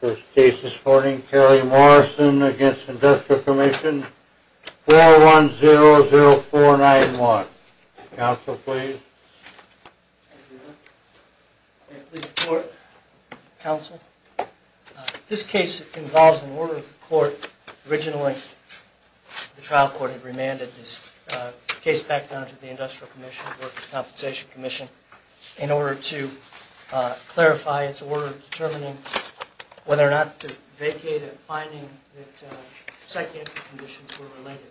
First case this morning, Carey Morrison against Industrial Commission 4100491. Counsel, please. Please report, Counsel. This case involves an order of the court. Originally, the trial court had remanded this case back down to the Industrial Commission, Workers' Compensation Commission, in order to clarify its order of determining whether or not to vacate a finding that psychiatric conditions were related.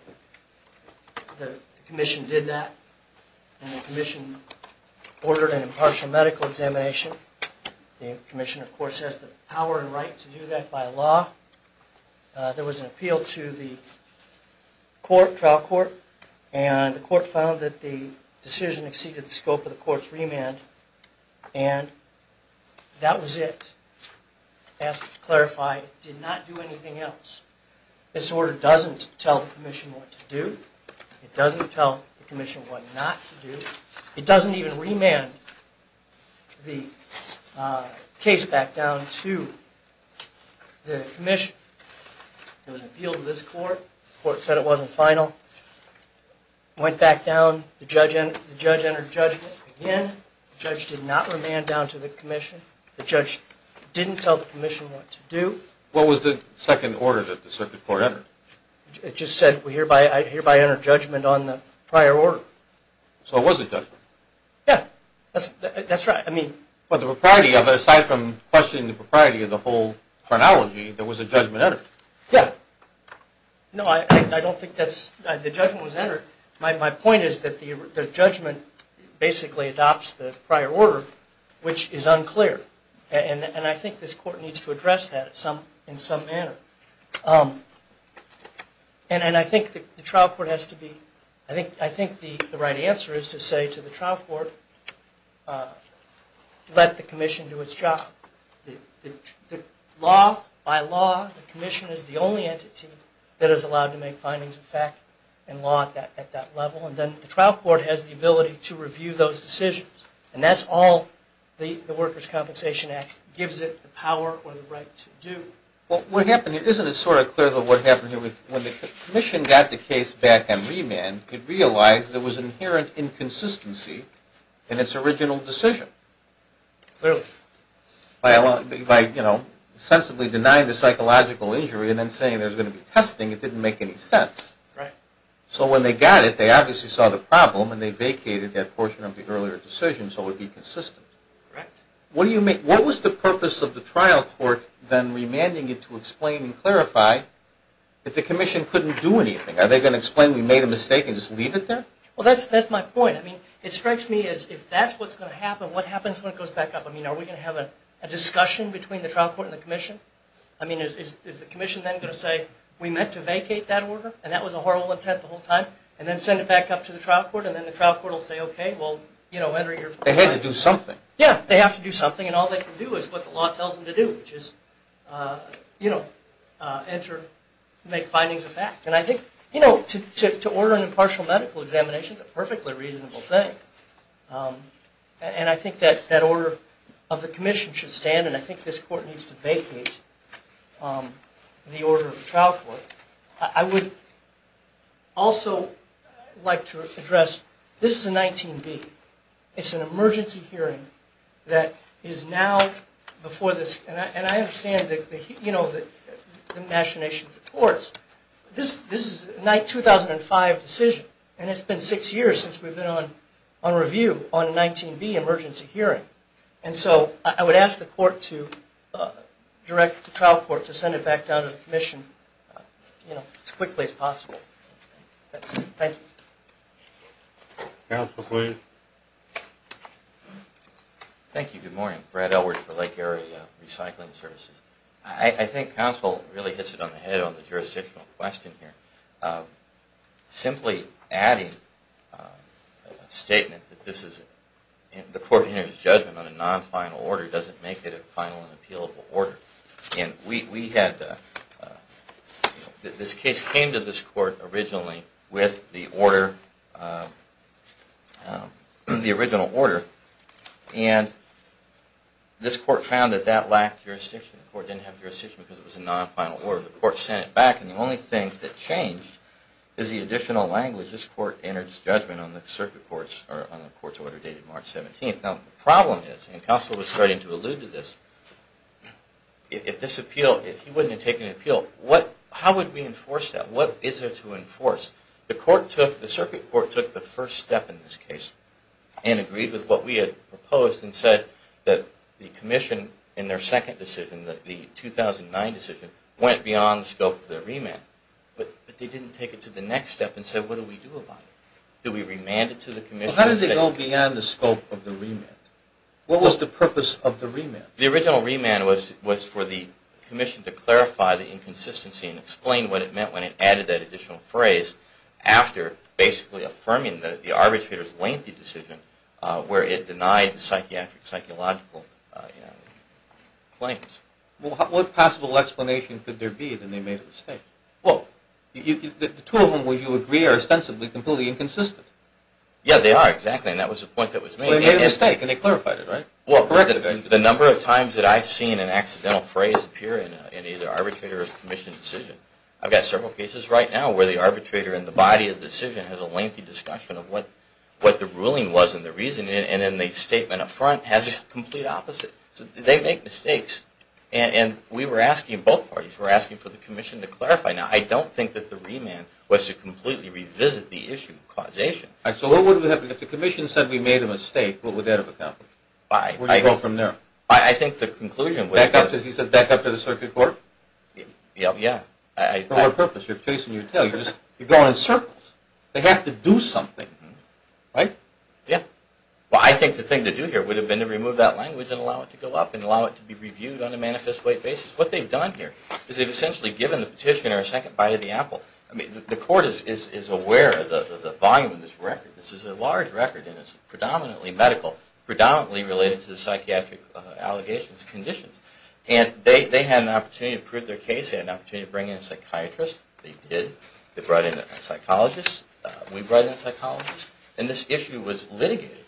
The commission did that, and the commission ordered an impartial medical examination. The commission, of course, has the power and right to do that by law. There was an appeal to the trial court, and the court found that the decision exceeded the scope of the court's remand, and that was it. As to clarify, it did not do anything else. This order doesn't tell the commission what to do. It doesn't tell the commission what not to do. It doesn't even remand the case back down to the commission. There was an appeal to this court. The court said it wasn't final. It went back down. The judge entered judgment again. The judge did not remand down to the commission. The judge didn't tell the commission what to do. What was the second order that the circuit court entered? It just said, I hereby enter judgment on the prior order. So it was a judgment. Yeah, that's right. Aside from questioning the propriety of the whole chronology, there was a judgment entered. Yeah. No, I don't think the judgment was entered. My point is that the judgment basically adopts the prior order, which is unclear, and I think this court needs to address that in some manner. I think the right answer is to say to the trial court, let the commission do its job. By law, the commission is the only entity that is allowed to make findings of fact and law at that level, and then the trial court has the ability to review those decisions, and that's all the Workers' Compensation Act gives it the power or the right to do. Well, what happened here, isn't it sort of clear what happened here? When the commission got the case back on remand, it realized there was an inherent inconsistency in its original decision. Clearly. By, you know, sensibly denying the psychological injury and then saying there's going to be testing, it didn't make any sense. Right. So when they got it, they obviously saw the problem, and they vacated that portion of the earlier decision so it would be consistent. Correct. What was the purpose of the trial court then remanding it to explain and clarify if the commission couldn't do anything? Are they going to explain we made a mistake and just leave it there? Well, that's my point. I mean, it strikes me as if that's what's going to happen, what happens when it goes back up? I mean, are we going to have a discussion between the trial court and the commission? I mean, is the commission then going to say we meant to vacate that order and that was a horrible intent the whole time, and then send it back up to the trial court and then the trial court will say, okay, well, you know, They had to do something. Yeah, they have to do something, and all they can do is what the law tells them to do, which is, you know, enter, make findings of fact. And I think, you know, to order an impartial medical examination is a perfectly reasonable thing. And I think that order of the commission should stand, and I think this court needs to vacate the order of the trial court. I would also like to address this is a 19B. It's an emergency hearing that is now before this, and I understand the machinations of the courts. This is a 2005 decision, and it's been six years since we've been on review on a 19B emergency hearing. And so I would ask the court to direct the trial court to send it back down to the commission as quickly as possible. Thank you. Counsel, please. Thank you. Good morning. Brad Elwood for Lake Area Recycling Services. I think counsel really hits it on the head on the jurisdictional question here. Simply adding a statement that this is the court's judgment on a non-final order doesn't make it a final and appealable order. This case came to this court originally with the original order, and this court found that that lacked jurisdiction. The court didn't have jurisdiction because it was a non-final order. The court sent it back, and the only thing that changed is the additional language. This court entered its judgment on the circuit court's order dated March 17th. Now, the problem is, and counsel was starting to allude to this, if he wouldn't have taken an appeal, how would we enforce that? What is there to enforce? The circuit court took the first step in this case and agreed with what we had proposed and said that the commission in their second decision, the 2009 decision, went beyond the scope of the remand. But they didn't take it to the next step and said, what do we do about it? Do we remand it to the commission? How did they go beyond the scope of the remand? What was the purpose of the remand? The original remand was for the commission to clarify the inconsistency and explain what it meant when it added that additional phrase after basically affirming the arbitrator's lengthy decision where it denied the psychiatric, psychological claims. Well, what possible explanation could there be that they made a mistake? Well, the two of them, would you agree, are ostensibly completely inconsistent? Yeah, they are, exactly, and that was the point that was made. Well, they made a mistake and they clarified it, right? Well, correct it. The number of times that I've seen an accidental phrase appear in either arbitrator or commission decision, I've got several cases right now where the arbitrator and the body of the decision has a lengthy discussion of what the ruling was and the reason, and then the statement up front has the complete opposite. They make mistakes. And we were asking both parties, we were asking for the commission to clarify. I don't think that the remand was to completely revisit the issue of causation. So what would have happened if the commission said we made a mistake, what would that have accomplished? Where would you go from there? I think the conclusion would have been... Back up to the circuit court? Yeah. For what purpose? You're chasing your tail. You're going in circles. They have to do something, right? Yeah. Well, I think the thing to do here would have been to remove that language and allow it to go up and allow it to be reviewed on a manifest way basis. What they've done here is they've essentially given the petitioner a second bite of the apple. The court is aware of the volume of this record. This is a large record and it's predominantly medical, predominantly related to the psychiatric allegations, conditions. And they had an opportunity to prove their case. They had an opportunity to bring in a psychiatrist. They did. They brought in a psychologist. We brought in a psychologist. And this issue was litigated.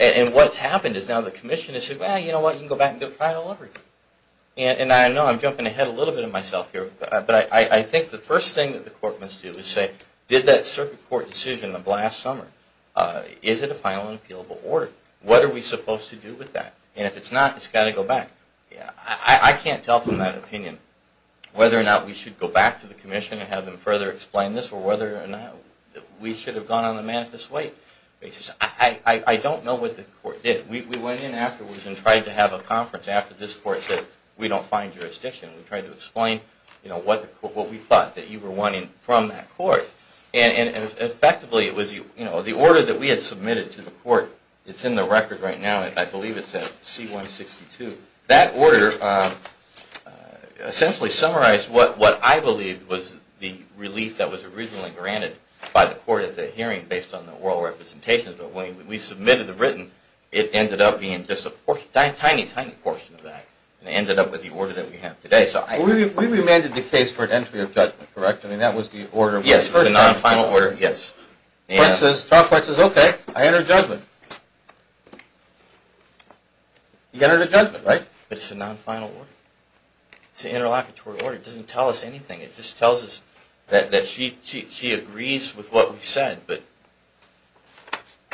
And what's happened is now the commission has said, well, you know what, you can go back and try it all over again. And I know I'm jumping ahead a little bit of myself here, but I think the first thing that the court must do is say, did that circuit court decision of last summer, is it a final and appealable order? What are we supposed to do with that? And if it's not, it's got to go back. I can't tell from that opinion whether or not we should go back to the commission and have them further explain this or whether or not we should have gone on the manifest way basis. I don't know what the court did. We went in afterwards and tried to have a conference after this court said, we don't find jurisdiction. We tried to explain what we thought that you were wanting from that court. And effectively, the order that we had submitted to the court, it's in the record right now, I believe it's at C-162. That order essentially summarized what I believed was the relief that was originally granted by the court at the hearing based on the oral representations. But when we submitted the written, it ended up being just a tiny, tiny portion of that. And it ended up with the order that we have today. We remanded the case for an entry of judgment, correct? I mean, that was the order. Yes, the non-final order. Yes. Clark says, OK, I enter judgment. You enter judgment, right? But it's a non-final order. It's an interlocutory order. It doesn't tell us anything. It just tells us that she agrees with what we said. But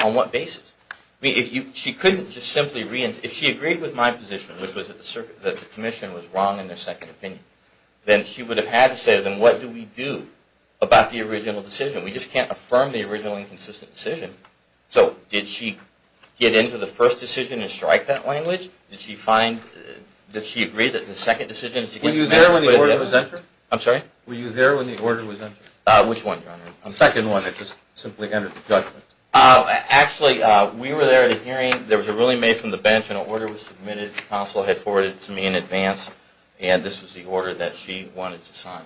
on what basis? I mean, she couldn't just simply reenter. If she agreed with my position, which was that the commission was wrong in their second opinion, then she would have had to say to them, what do we do about the original decision? We just can't affirm the original inconsistent decision. So did she get into the first decision and strike that language? Did she find that she agreed that the second decision is against the statute of limitations? Was the order entered? I'm sorry? Were you there when the order was entered? Which one, Your Honor? The second one that just simply entered judgment. Actually, we were there at a hearing. There was a ruling made from the bench and an order was submitted. The counsel had forwarded it to me in advance, and this was the order that she wanted to sign.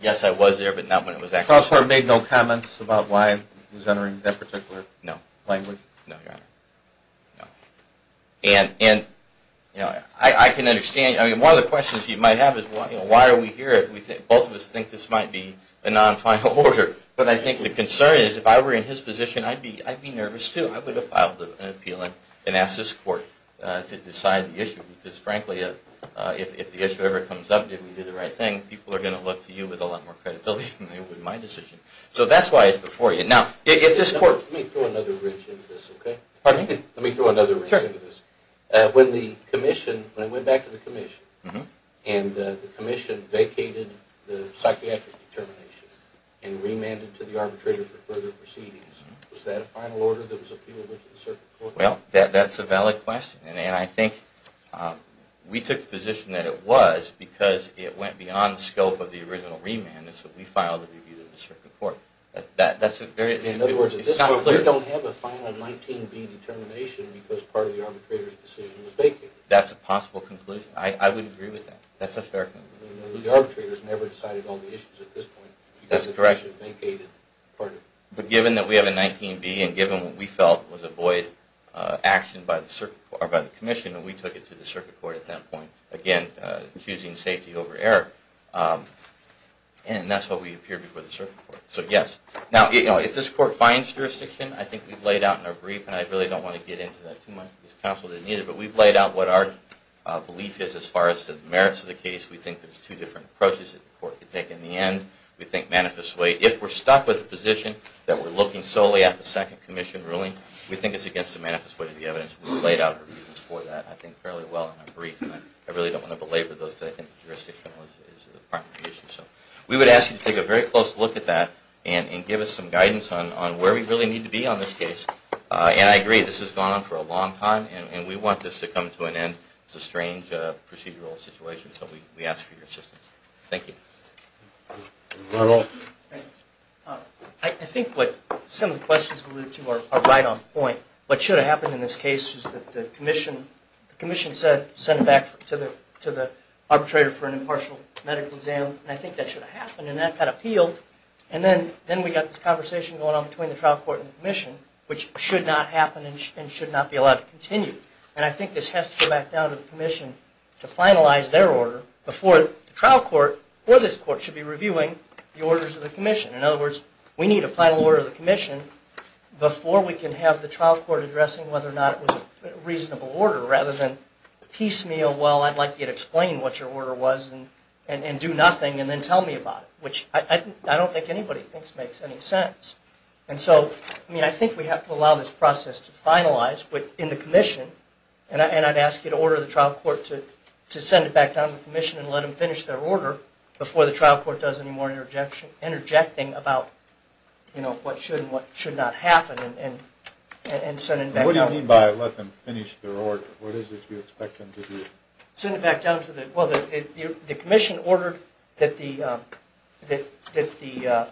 Yes, I was there, but not when it was actually signed. Counselor made no comments about why she was entering that particular language? No, Your Honor. And I can understand. One of the questions you might have is, why are we here? Both of us think this might be a non-final order. But I think the concern is, if I were in his position, I'd be nervous, too. I would have filed an appeal and asked this court to decide the issue. Because, frankly, if the issue ever comes up, did we do the right thing, people are going to look to you with a lot more credibility than they would my decision. So that's why it's before you. Let me throw another ridge into this. When I went back to the commission and the commission vacated the psychiatric determination and remanded to the arbitrator for further proceedings, was that a final order that was appealable to the circuit court? Well, that's a valid question, and I think we took the position that it was because it went beyond the scope of the original remand, and so we filed a review to the circuit court. In other words, at this point, we don't have a final 19B determination because part of the arbitrator's decision was vacated. That's a possible conclusion. I would agree with that. The arbitrator has never decided all the issues at this point. That's correct. But given that we have a 19B, and given what we felt was a void action by the commission, we took it to the circuit court at that point. Again, choosing safety over error. And that's why we appeared before the circuit court. So yes. Now, if this court finds jurisdiction, I think we've laid out in our brief, and I really don't want to get into that too much because counsel didn't either, but we've laid out what our belief is as far as the merits of the case. We think there's two different approaches that the court could take. In the end, we think manifestly, if we're stuck with the position that we're looking solely at the second commission ruling, we think it's against the manifest way of the evidence. We've laid out reasons for that, I think, fairly well in our brief, and I really don't want to belabor those. I think jurisdiction is the primary issue. So we would ask you to take a very close look at that and give us some guidance on where we really need to be on this case. And I agree, this has gone on for a long time, and we want this to come to an end. It's a strange procedural situation, so we ask for your assistance. Thank you. Ronald? I think what some of the questions we alluded to are right on point. What should have happened in this case is that the commission sent it back to the arbitrator for an impartial medical exam, and I think that should have happened, and that got appealed, and then we got this conversation going on between the trial court and the commission, which should not happen and should not be allowed to continue. And I think this has to go back down to the commission to finalize their order before the trial court or this court should be reviewing the orders of the commission. In other words, we need a final order of the commission before we can have the trial court addressing whether or not it was a reasonable order, rather than piecemeal, well, I'd like you to explain what your order was and do nothing and then tell me about it, which I don't think anybody thinks makes any sense. And so, I mean, I think we have to allow this process to finalize in the commission, and I'd ask you to order the trial court to send it back down to the commission and let them finish their order before the trial court does any more interjecting about what should and what should not happen and send it back down. What do you mean by let them finish their order? What is it you expect them to do? Send it back down to the, well, the commission ordered that the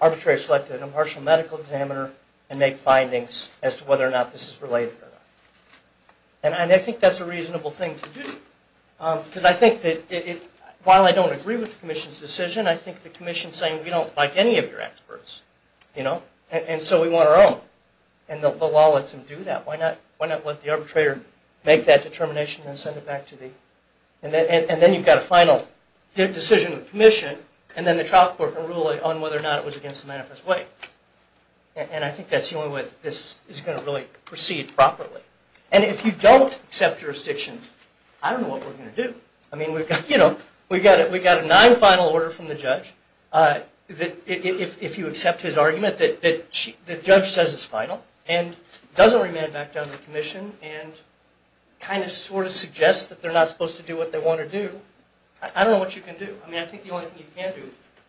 arbitrator select an impartial medical examiner and make findings as to whether or not this is related or not. And I think that's a reasonable thing to do. Because I think that while I don't agree with the commission's decision, I think the commission's saying we don't like any of your experts, you know, and so we want our own. And the law lets them do that. Why not let the arbitrator make that determination and send it back to the, and then you've got a final decision of the commission, and then the trial court can rule on whether or not it was against the manifest way. And I think that's the only way this is going to really proceed properly. And if you don't accept jurisdiction, I don't know what we're going to do. I mean, you know, we've got a non-final order from the judge. If you accept his argument that the judge says it's final and doesn't remand it back down to the commission and kind of sort of suggest that they're not supposed to do what they want to do, I don't know what you can do. I mean, I think the only thing you can do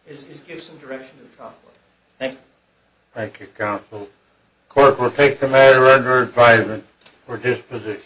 is give some direction to the trial court. Thank you. Thank you, counsel. The court will take the matter under advisement for disposition.